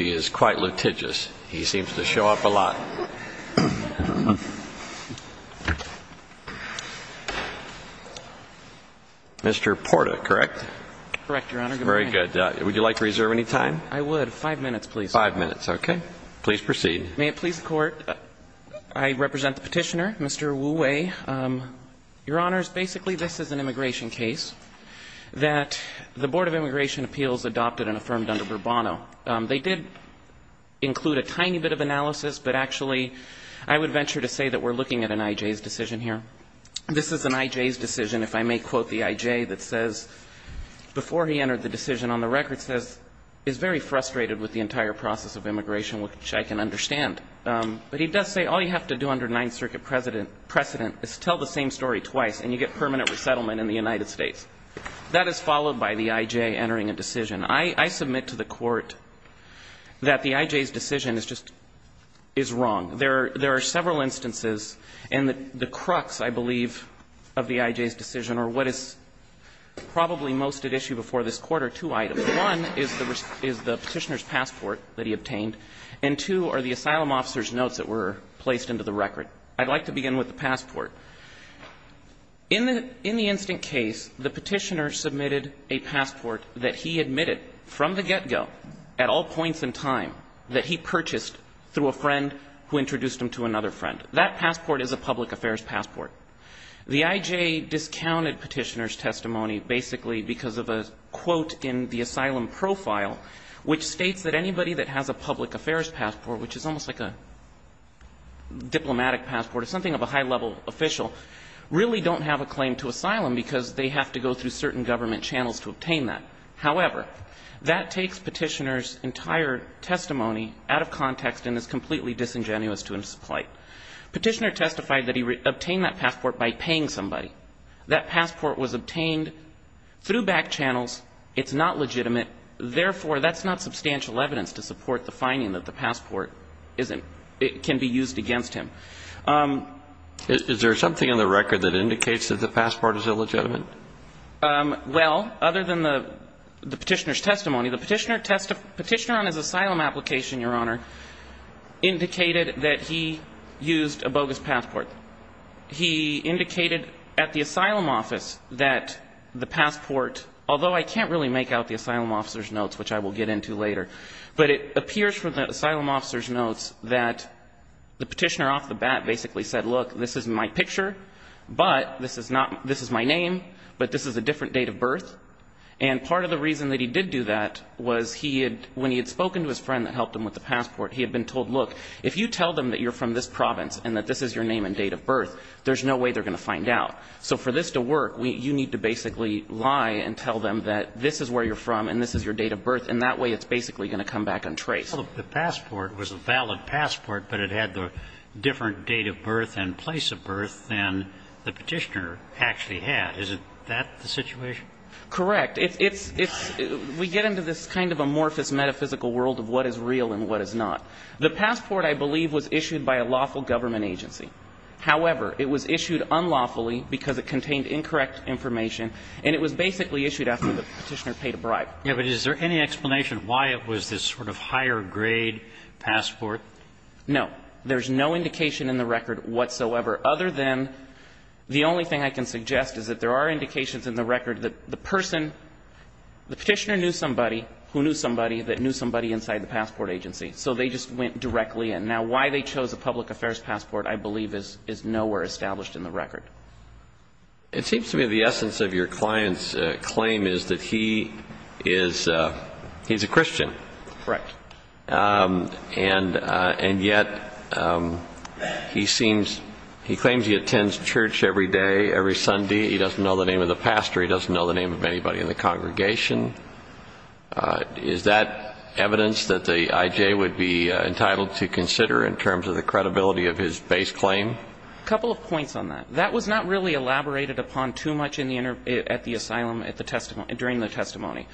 is quite litigious. He seems to show up a lot. Mr. Porta, correct? Correct, Your Honor. Very good. Would you like to reserve any time? I would. Five minutes, please. Five minutes, okay. Please proceed. May it please the Court, I represent the petitioner, Mr. Wu Wei. Your Honors, basically this is an immigration case that the Board of Immigration Appeals adopted and affirmed under Bourbono. They did include a tiny bit of analysis, but actually I would venture to say that we're looking at an I.J.'s decision here. This is an I.J.'s decision, if I may quote the I.J. that says, before he entered the decision on the record, says, is very frustrated with the entire process of immigration, which I can understand. But he does say all you have to do under Ninth Circuit precedent is tell the same story twice, and you get permanent resettlement in the United States. That is followed by the I.J. entering a decision. I submit to the Court that the I.J.'s decision is just, is wrong. There are several instances, and the crux, I believe, of the I.J.'s decision or what is probably most at issue before this Court are two items. One is the Petitioner's passport that he obtained, and two are the asylum officer's notes that were placed into the record. I'd like to begin with the passport. In the instant case, the Petitioner submitted a passport that he admitted from the get-go at all points in time that he purchased through a friend who introduced him to another friend. That passport is a public affairs passport. The I.J. discounted Petitioner's testimony basically because of a quote in the asylum profile which states that anybody that has a public affairs passport, which is almost like a diplomatic passport or something of a high-level official, really don't have a claim to asylum because they have to go through certain government channels to obtain that. However, that takes Petitioner's entire testimony out of context and is completely disingenuous to his plight. Petitioner testified that he obtained that passport by paying somebody. That passport was obtained through back channels. It's not legitimate. Therefore, that's not substantial evidence to support the finding that the passport isn't – can be used against him. Is there something in the record that indicates that the passport is illegitimate? Well, other than the Petitioner's testimony, the Petitioner on his asylum application, Your Honor, indicated that he used a bogus passport. He indicated at the asylum office that the passport – although I can't really make out the asylum officer's notes, which I will get into later, but it appears from the asylum officer's notes that the Petitioner off the bat basically said, look, this is my picture, but this is not – this is my name, but this is a different date of birth. And part of the reason that he did do that was he had – when he had spoken to his family about the passport, he had been told, look, if you tell them that you're from this province and that this is your name and date of birth, there's no way they're going to find out. So for this to work, you need to basically lie and tell them that this is where you're from and this is your date of birth, and that way it's basically going to come back untraced. Well, the passport was a valid passport, but it had the different date of birth and place of birth than the Petitioner actually had. Isn't that the situation? Correct. We get into this kind of amorphous metaphysical world of what is real and what is not. The passport, I believe, was issued by a lawful government agency. However, it was issued unlawfully because it contained incorrect information, and it was basically issued after the Petitioner paid a bribe. Yeah, but is there any explanation why it was this sort of higher-grade passport? No. There's no indication in the record whatsoever, other than the only thing I can suggest is that there are indications in the record that the person, the Petitioner knew somebody who knew somebody that knew somebody inside the passport agency, so they just went directly in. Now, why they chose a public affairs passport, I believe, is nowhere established in the record. It seems to me the essence of your client's claim is that he is a Christian. Correct. And yet he claims he attends church every day, every Sunday. He doesn't know the name of the pastor. He doesn't know the name of anybody in the congregation. Is that evidence that the IJ would be entitled to consider in terms of the credibility of his base claim? A couple of points on that. That was not really elaborated upon too much at the asylum during the testimony.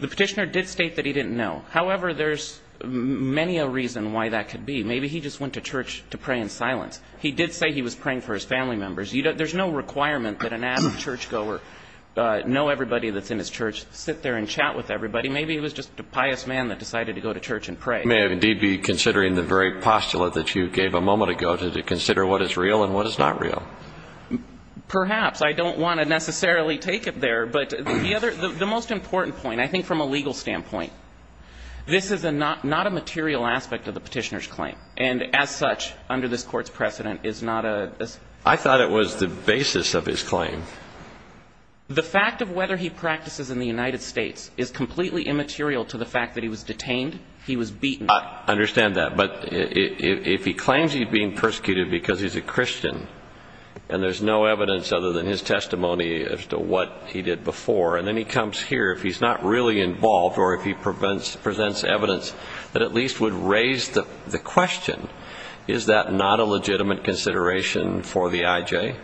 The Petitioner did state that he didn't know. However, there's many a reason why that could be. Maybe he just went to church to pray in silence. He did say he was praying for his family members. There's no requirement that an avid churchgoer know everybody that's in his church, sit there and chat with everybody. Maybe it was just a pious man that decided to go to church and pray. You may indeed be considering the very postulate that you gave a moment ago, to consider what is real and what is not real. Perhaps. I don't want to necessarily take it there. The most important point, I think from a legal standpoint, this is not a material aspect of the Petitioner's claim. And as such, under this Court's precedent, is not a... I thought it was the basis of his claim. The fact of whether he practices in the United States is completely immaterial to the fact that he was detained, he was beaten. I understand that. But if he claims he's being persecuted because he's a Christian and there's no evidence other than his testimony as to what he did before, and then he comes here, if he's not really involved or if he presents evidence that at least would raise the question, is that not a legitimate consideration for the IJ?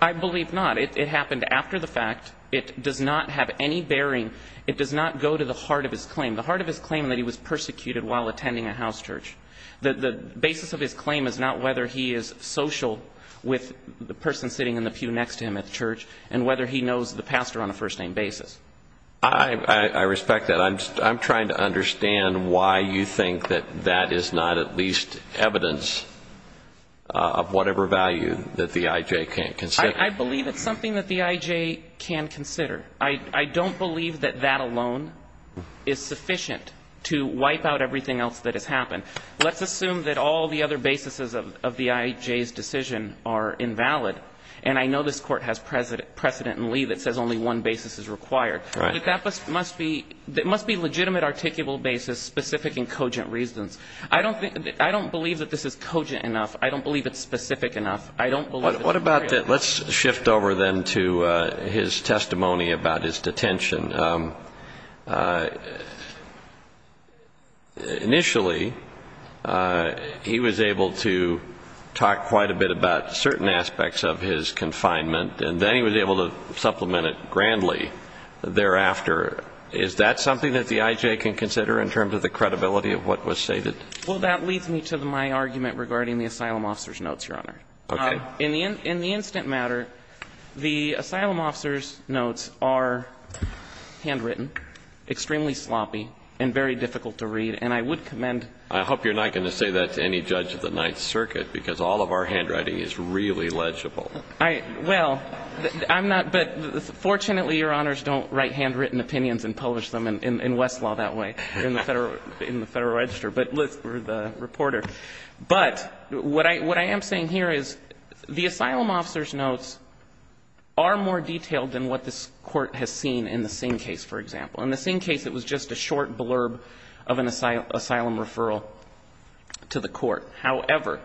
I believe not. It happened after the fact. It does not have any bearing. It does not go to the heart of his claim, the heart of his claim that he was persecuted while attending a house church. The basis of his claim is not whether he is social with the person sitting in the pew next to him at the church and whether he knows the pastor on a first-name basis. I respect that. I'm trying to understand why you think that that is not at least evidence of whatever value that the IJ can't consider. I believe it's something that the IJ can consider. I don't believe that that alone is sufficient to wipe out everything else that has happened. Let's assume that all the other basis of the IJ's decision are invalid, and I know this Court has precedent in Lee that says only one basis is required. Right. But that must be a legitimate, articulable basis, specific and cogent reasons. I don't believe that this is cogent enough. I don't believe it's specific enough. I don't believe it's real. What about that? Let's shift over then to his testimony about his detention. Initially, he was able to talk quite a bit about certain aspects of his confinement, and then he was able to supplement it grandly thereafter. Is that something that the IJ can consider in terms of the credibility of what was stated? Well, that leads me to my argument regarding the asylum officer's notes, Your Honor. Okay. In the instant matter, the asylum officer's notes are handwritten, extremely sloppy and very difficult to read. And I would commend I hope you're not going to say that to any judge of the Ninth Circuit, because all of our handwriting is really legible. Well, I'm not, but fortunately, Your Honors, don't write handwritten opinions and publish them in Westlaw that way, in the Federal Register, but we're the reporter. But what I am saying here is the asylum officer's notes are more detailed than what this Court has seen in the Singh case, for example. In the Singh case, it was just a short blurb of an asylum referral to the Court. However,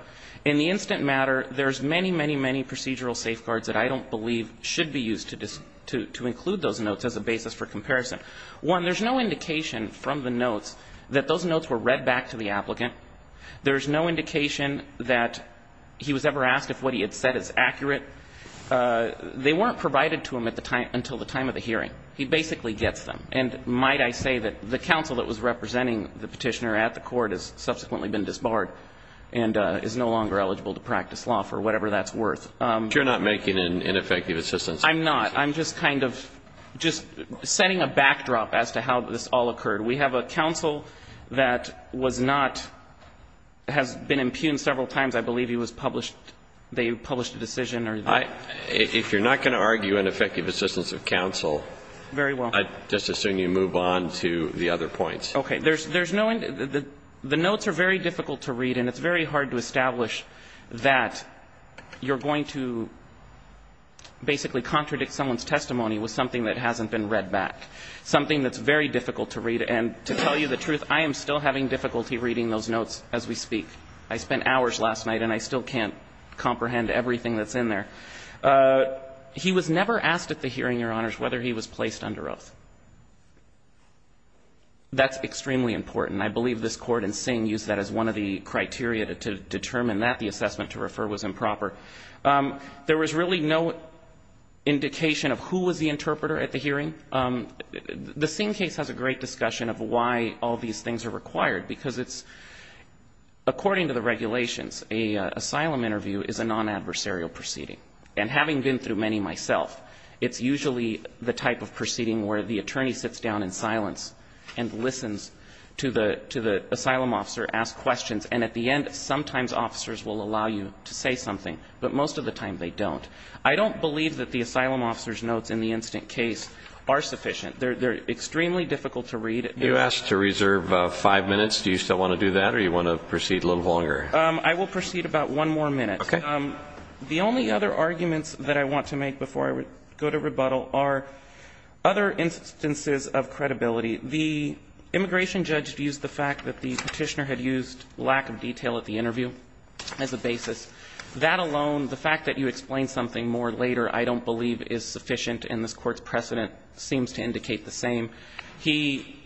in the instant matter, there's many, many, many procedural safeguards that I don't believe should be used to include those notes as a basis for comparison. One, there's no indication from the notes that those notes were read back to the applicant. There's no indication that he was ever asked if what he had said is accurate. They weren't provided to him until the time of the hearing. He basically gets them. And might I say that the counsel that was representing the petitioner at the Court has subsequently been disbarred and is no longer eligible to practice law, for whatever that's worth. But you're not making ineffective assistance? I'm not. I'm just kind of setting a backdrop as to how this all occurred. We have a counsel that was not, has been impugned several times, I believe he was published, they published a decision. If you're not going to argue ineffective assistance of counsel, I just assume you move on to the other points. Okay. There's no, the notes are very difficult to read, and it's very hard to establish that you're going to basically contradict someone's testimony with something that hasn't been read back, something that's very difficult to read, and to tell you the truth, I am still having difficulty reading those notes as we speak. I spent hours last night, and I still can't comprehend everything that's in there. He was never asked at the hearing, Your Honors, whether he was placed under oath. That's extremely important. I believe this Court and Singh used that as one of the criteria to determine that the assessment to refer was improper. Again, the Singh case has a great discussion of why all these things are required, because it's, according to the regulations, an asylum interview is a non-adversarial proceeding. And having been through many myself, it's usually the type of proceeding where the attorney sits down in silence and listens to the asylum officer ask questions, and at the end sometimes officers will allow you to say something, but most of the time they don't. I don't believe that the asylum officer's notes in the instant case are sufficient. They're extremely difficult to read. You asked to reserve five minutes. Do you still want to do that, or do you want to proceed a little longer? I will proceed about one more minute. Okay. The only other arguments that I want to make before I go to rebuttal are other instances of credibility. The immigration judge views the fact that the petitioner had used lack of detail at the interview as a basis. That alone, the fact that you explain something more later I don't believe is sufficient, and this Court's precedent seems to indicate the same. He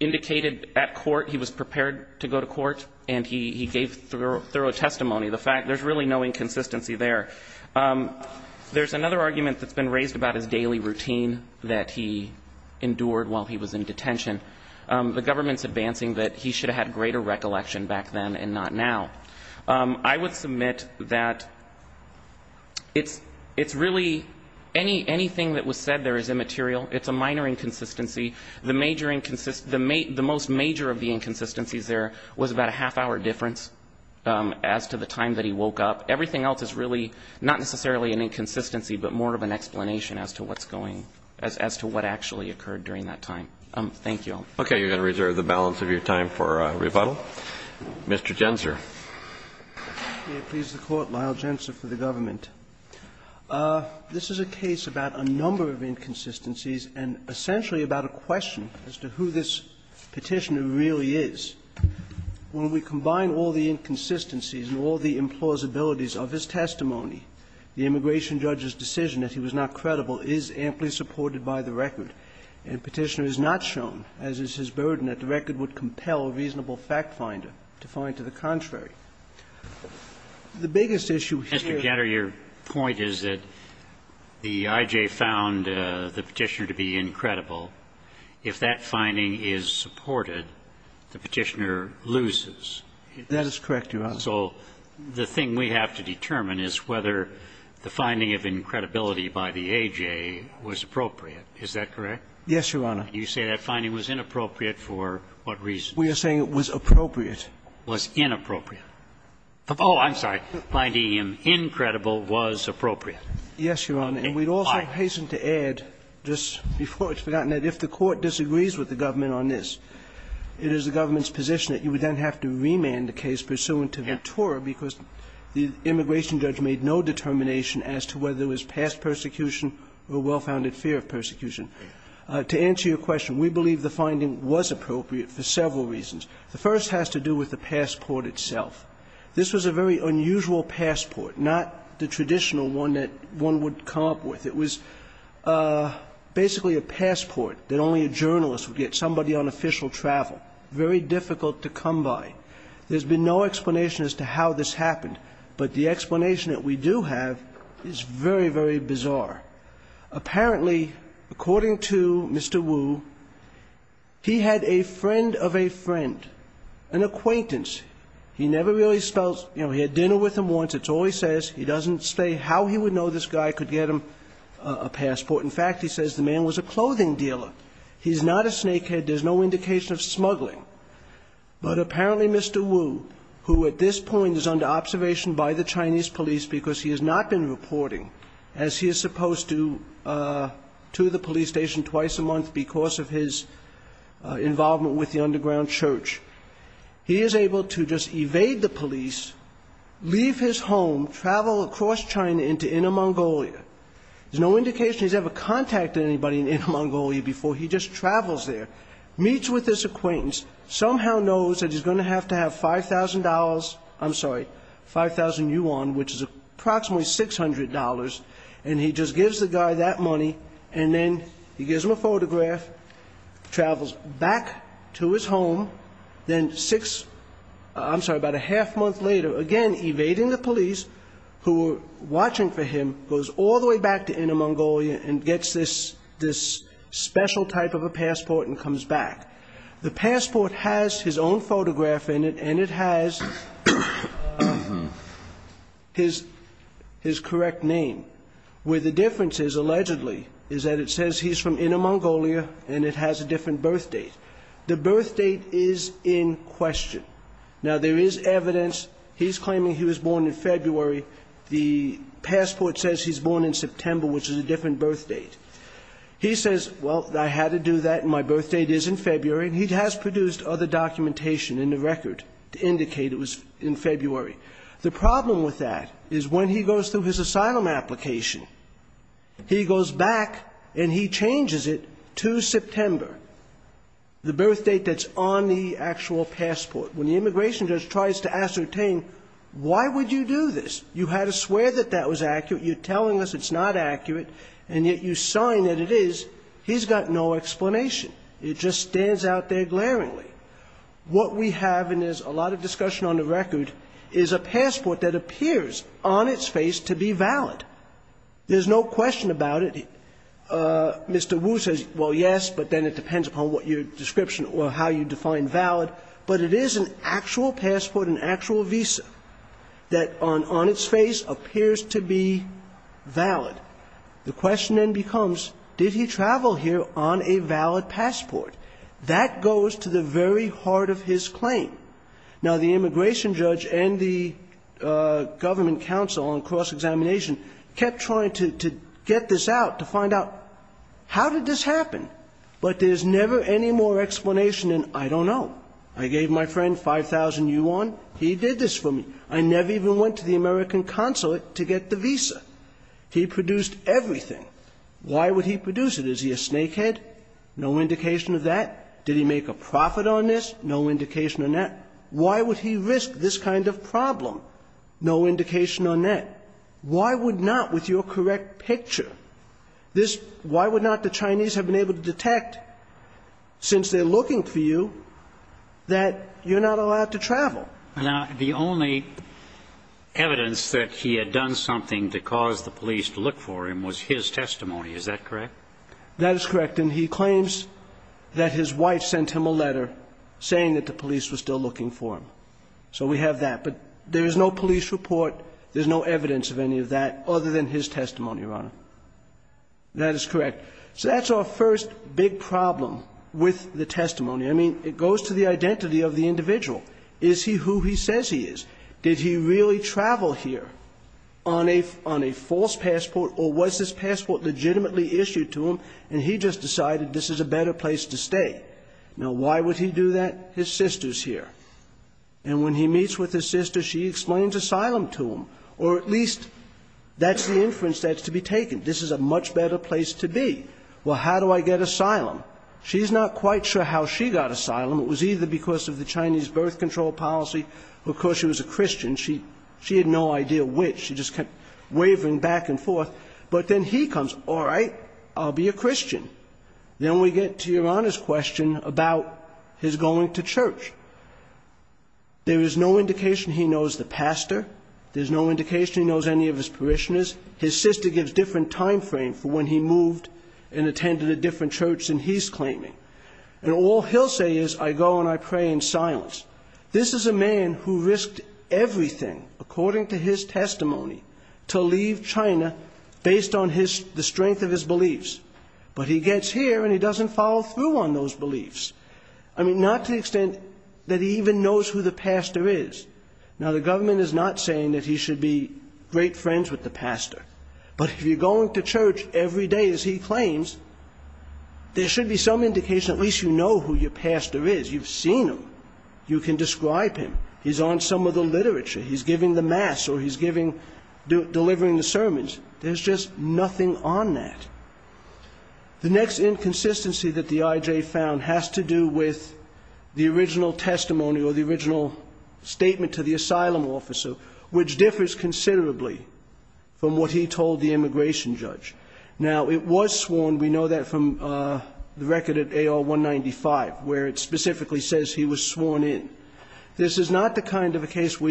indicated at court he was prepared to go to court, and he gave thorough testimony. The fact there's really no inconsistency there. There's another argument that's been raised about his daily routine that he endured while he was in detention. The government's advancing that he should have had greater recollection back then and not now. I would submit that it's really anything that was said there is immaterial. It's a minor inconsistency. The major inconsistency, the most major of the inconsistencies there was about a half-hour difference as to the time that he woke up. Everything else is really not necessarily an inconsistency, but more of an explanation as to what's going as to what actually occurred during that time. Thank you all. Okay. You're going to reserve the balance of your time for rebuttal. Mr. Gensler. May it please the Court, Lyle Gensler for the government. This is a case about a number of inconsistencies and essentially about a question as to who this petitioner really is. When we combine all the inconsistencies and all the implausibilities of his testimony, the immigration judge's decision that he was not credible is amply supported by the record. And Petitioner has not shown, as is his burden, that the record would compel a reasonable fact finder to find to the contrary. The biggest issue here Mr. Gatter, your point is that the I.J. found the Petitioner to be incredible. If that finding is supported, the Petitioner loses. That is correct, Your Honor. So the thing we have to determine is whether the finding of incredibility by the I.J. was appropriate. Is that correct? Yes, Your Honor. You say that finding was inappropriate for what reason? We are saying it was appropriate. Was inappropriate. Oh, I'm sorry. Finding him incredible was appropriate. Yes, Your Honor. And we'd also hasten to add, just before it's forgotten, that if the Court disagrees with the government on this, it is the government's position that you would then have to remand the case pursuant to Ventura because the immigration judge made no determination as to whether it was past persecution or well-founded fear of persecution. To answer your question, we believe the finding was appropriate for several reasons. The first has to do with the passport itself. This was a very unusual passport, not the traditional one that one would come up with. It was basically a passport that only a journalist would get, somebody on official travel, very difficult to come by. There's been no explanation as to how this happened. But the explanation that we do have is very, very bizarre. Apparently, according to Mr. Wu, he had a friend of a friend, an acquaintance. He never really spells, you know, he had dinner with him once, that's all he says. He doesn't say how he would know this guy could get him a passport. In fact, he says the man was a clothing dealer. He's not a snakehead. There's no indication of smuggling. But apparently Mr. Wu, who at this point is under observation by the Chinese police because he has not been reporting, as he is supposed to, to the police station twice a month because of his involvement with the underground church, he is able to just evade the police, leave his home, travel across China into Inner Mongolia. There's no indication he's ever contacted anybody in Inner Mongolia before. He just travels there, meets with this acquaintance, somehow knows that he's going to have to have $5,000, I'm sorry, 5,000 yuan, which is approximately $600, and he just gives the guy that money, and then he gives him a photograph, travels back to his home, then six, I'm sorry, about a half month later, again evading the police who are watching for him, goes all the way back to Inner Mongolia and gets this special type of a passport and comes back. The passport has his own photograph in it, and it has his correct name. Where the difference is, allegedly, is that it says he's from Inner Mongolia, and it has a different birth date. The birth date is in question. Now, there is evidence. He's claiming he was born in February. The passport says he's born in September, which is a different birth date. He says, well, I had to do that, and my birth date is in February, and he has produced other documentation in the record to indicate it was in February. The problem with that is when he goes through his asylum application, he goes back and he changes it to September, the birth date that's on the actual passport. When the immigration judge tries to ascertain why would you do this, you had to swear that that was accurate, you're telling us it's not accurate, and yet you sign that it is, he's got no explanation. It just stands out there glaringly. What we have, and there's a lot of discussion on the record, is a passport that appears on its face to be valid. There's no question about it. Mr. Wu says, well, yes, but then it depends upon what your description or how you define valid. But it is an actual passport, an actual visa, that on its face appears to be valid. The question then becomes, did he travel here on a valid passport? That goes to the very heart of his claim. Now, the immigration judge and the government counsel on cross-examination kept trying to get this out, to find out, how did this happen? But there's never any more explanation than I don't know. I gave my friend 5,000 yuan, he did this for me. I never even went to the American consulate to get the visa. He produced everything. Why would he produce it? Is he a snakehead? No indication of that. Did he make a profit on this? No indication of that. Why would he risk this kind of problem? No indication on that. Why would not, with your correct picture, this why would not the Chinese have been able to detect, since they're looking for you, that you're not allowed to travel? Now, the only evidence that he had done something to cause the police to look for him was his testimony, is that correct? That is correct. And he claims that his wife sent him a letter saying that the police were still looking for him. So we have that. But there is no police report. There's no evidence of any of that other than his testimony, Your Honor. That is correct. So that's our first big problem with the testimony. I mean, it goes to the identity of the individual. Is he who he says he is? Did he really travel here on a false passport, or was this passport legitimately issued to him, and he just decided this is a better place to stay? Now, why would he do that? His sister's here. And when he meets with his sister, she explains asylum to him. Or at least that's the inference that's to be taken. This is a much better place to be. Well, how do I get asylum? She's not quite sure how she got asylum. It was either because of the Chinese birth control policy. Of course, she was a Christian. She had no idea which. She just kept wavering back and forth. But then he comes, all right, I'll be a Christian. Then we get to Your Honor's question about his going to church. There is no indication he knows the pastor. There's no indication he knows any of his parishioners. His sister gives different time frames for when he moved and attended a different church than he's claiming. And all he'll say is, I go and I pray in silence. This is a man who risked everything, according to his testimony, to leave China based on the strength of his beliefs. But he gets here and he doesn't follow through on those beliefs. I mean, not to the extent that he even knows who the pastor is. Now, the government is not saying that he should be great friends with the pastor. But if you're going to church every day, as he claims, there should be some indication at least you know who your pastor is. You've seen him. You can describe him. He's on some of the literature. He's giving the mass or he's delivering the sermons. There's just nothing on that. The next inconsistency that the IJ found has to do with the original testimony or the original statement to the asylum officer, which differs considerably from what he told the immigration judge. Now, it was sworn. We know that from the record at AR-195, where it specifically says he was sworn in. This is not the kind of a case where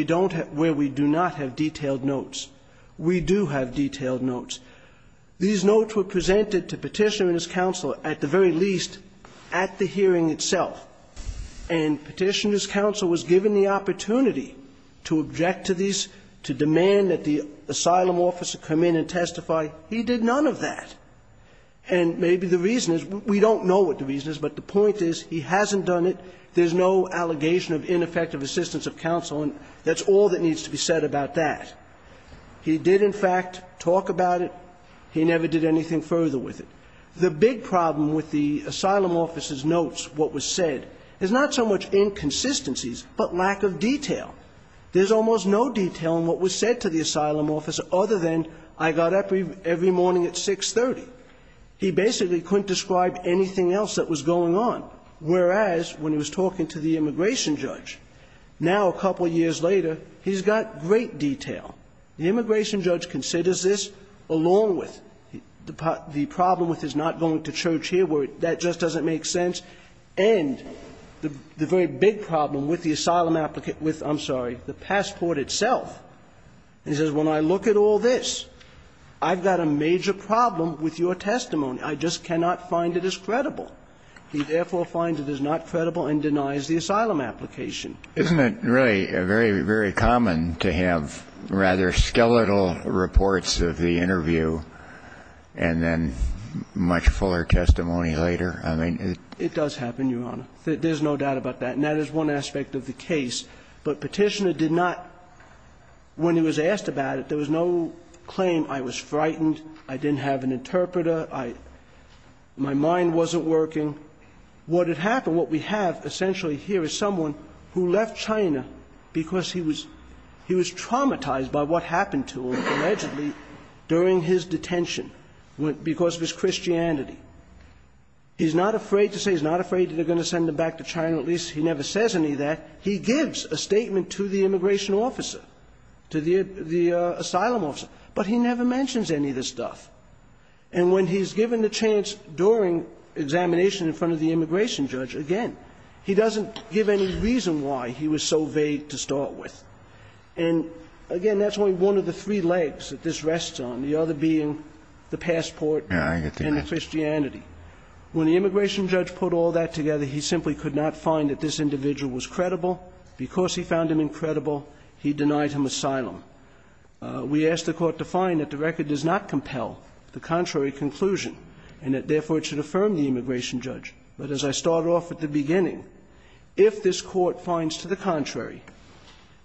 we do not have detailed notes. We do have detailed notes. These notes were presented to Petitioner and his counsel at the very least at the hearing itself. And Petitioner's counsel was given the opportunity to object to these, to demand that the asylum officer come in and testify. He did none of that. And maybe the reason is we don't know what the reason is, but the point is he hasn't done it. There's no allegation of ineffective assistance of counsel. And that's all that needs to be said about that. He did, in fact, talk about it. He never did anything further with it. The big problem with the asylum officer's notes, what was said, is not so much inconsistencies but lack of detail. There's almost no detail in what was said to the asylum officer other than I got up every morning at 6.30. He basically couldn't describe anything else that was going on. Whereas, when he was talking to the immigration judge, now a couple years later, he's got great detail. The immigration judge considers this along with the problem with his not going to church here where that just doesn't make sense, and the very big problem with the asylum applicant with, I'm sorry, the passport itself. He says, when I look at all this, I've got a major problem with your testimony. I just cannot find it as credible. He therefore finds it is not credible and denies the asylum application. Isn't it really very, very common to have rather skeletal reports of the interview and then much fuller testimony later? I mean, it does happen, Your Honor. There's no doubt about that. And that is one aspect of the case. But Petitioner did not, when he was asked about it, there was no claim, I was frightened, I didn't have an interpreter. My mind wasn't working. What had happened, what we have essentially here is someone who left China because he was traumatized by what happened to him allegedly during his detention because of his Christianity. He's not afraid to say, he's not afraid that they're going to send him back to China. At least he never says any of that. He gives a statement to the immigration officer, to the asylum officer, but he never mentions any of this stuff. And when he's given the chance during examination in front of the immigration judge, again, he doesn't give any reason why he was so vague to start with. And, again, that's only one of the three legs that this rests on, the other being the passport and the Christianity. When the immigration judge put all that together, he simply could not find that this individual was credible. Because he found him incredible, he denied him asylum. We asked the court to find that the record does not compel the contrary conclusion and that, therefore, it should affirm the immigration judge. But as I started off at the beginning, if this court finds to the contrary,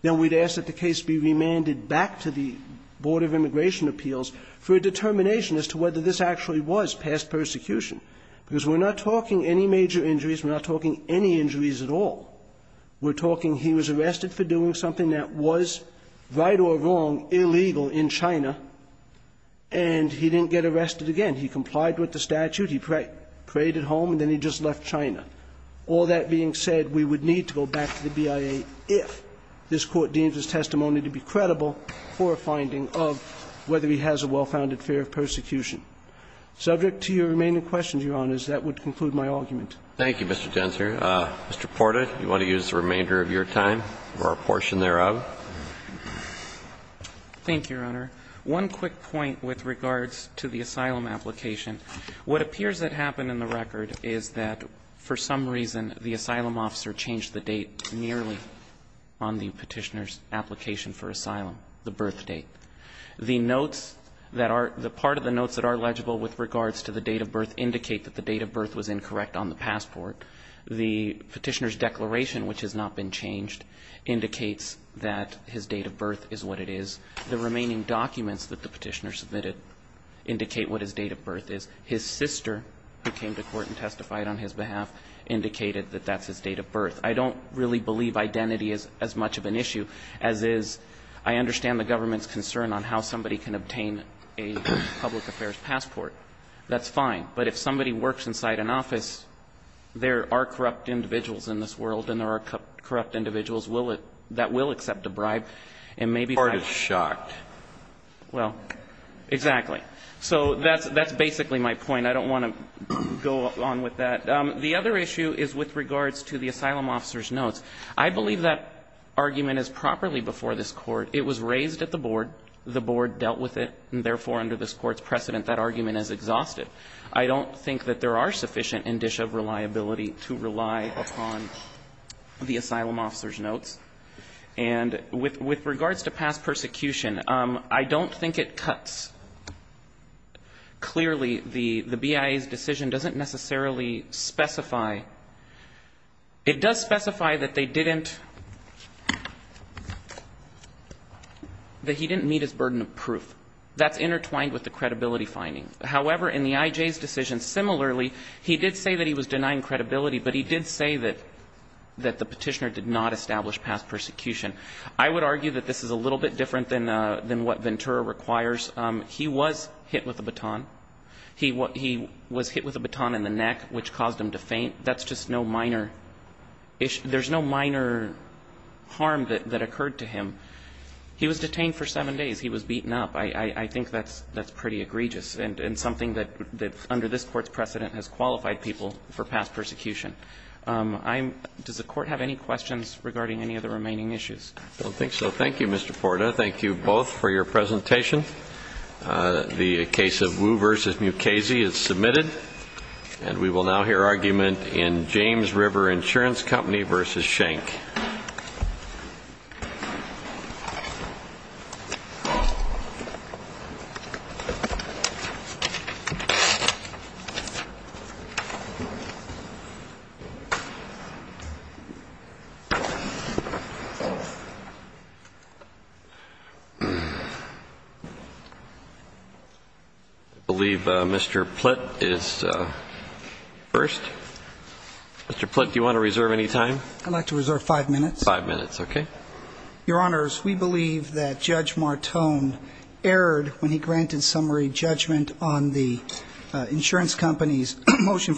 then we'd ask that the case be remanded back to the Board of Immigration Appeals for a determination as to whether this actually was past persecution. Because we're not talking any major injuries, we're not talking any injuries at all. We're talking he was arrested for doing something that was, right or wrong, illegal in China, and he didn't get arrested again. He complied with the statute, he prayed at home, and then he just left China. All that being said, we would need to go back to the BIA if this Court deems his testimony to be credible for a finding of whether he has a well-founded fear of persecution. Subject to your remaining questions, Your Honors, that would conclude my argument. Thank you, Mr. Densner. Mr. Porta, do you want to use the remainder of your time or a portion thereof? Thank you, Your Honor. One quick point with regards to the asylum application. What appears to have happened in the record is that for some reason the asylum officer changed the date nearly on the Petitioner's application for asylum, the birth date. The notes that are the part of the notes that are legible with regards to the date of birth indicate that the date of birth was incorrect on the passport. The Petitioner's declaration, which has not been changed, indicates that his date of birth is what it is. The remaining documents that the Petitioner submitted indicate what his date of birth is. His sister, who came to court and testified on his behalf, indicated that that's his date of birth. I don't really believe identity is as much of an issue as is I understand the government's concern on how somebody can obtain a public affairs passport. That's fine. But if somebody works inside an office, there are corrupt individuals in this world and there are corrupt individuals that will accept a bribe. And maybe part of the court is shocked. Well, exactly. So that's basically my point. I don't want to go on with that. The other issue is with regards to the asylum officer's notes. I believe that argument is properly before this Court. It was raised at the Board. The Board dealt with it. And therefore, under this Court's precedent, that argument is exhausted. I don't think that there are sufficient indicia of reliability to rely upon the asylum officer's notes. And with regards to past persecution, I don't think it cuts. Clearly, the BIA's decision doesn't necessarily specify. It does specify that they didn't, that he didn't meet his burden of proof. That's intertwined with the credibility finding. However, in the IJ's decision, similarly, he did say that he was denying credibility, but he did say that the Petitioner did not establish past persecution. I would argue that this is a little bit different than what Ventura requires. He was hit with a baton. He was hit with a baton in the neck, which caused him to faint. That's just no minor issue. There's no minor harm that occurred to him. He was detained for seven days. He was beaten up. I think that's pretty egregious and something that under this Court's precedent has qualified people for past persecution. Does the Court have any questions regarding any of the remaining issues? I don't think so. Thank you, Mr. Porta. Thank you both for your presentation. The case of Wu v. Mukasey is submitted. And we will now hear argument in James River Insurance Company v. Schenck. I believe Mr. Plitt is first. Mr. Plitt, do you want to reserve any time? I'd like to reserve five minutes. Five minutes, okay. Your Honors, we believe that Judge Martone erred when he granted summary judgment on the insurance company's motion.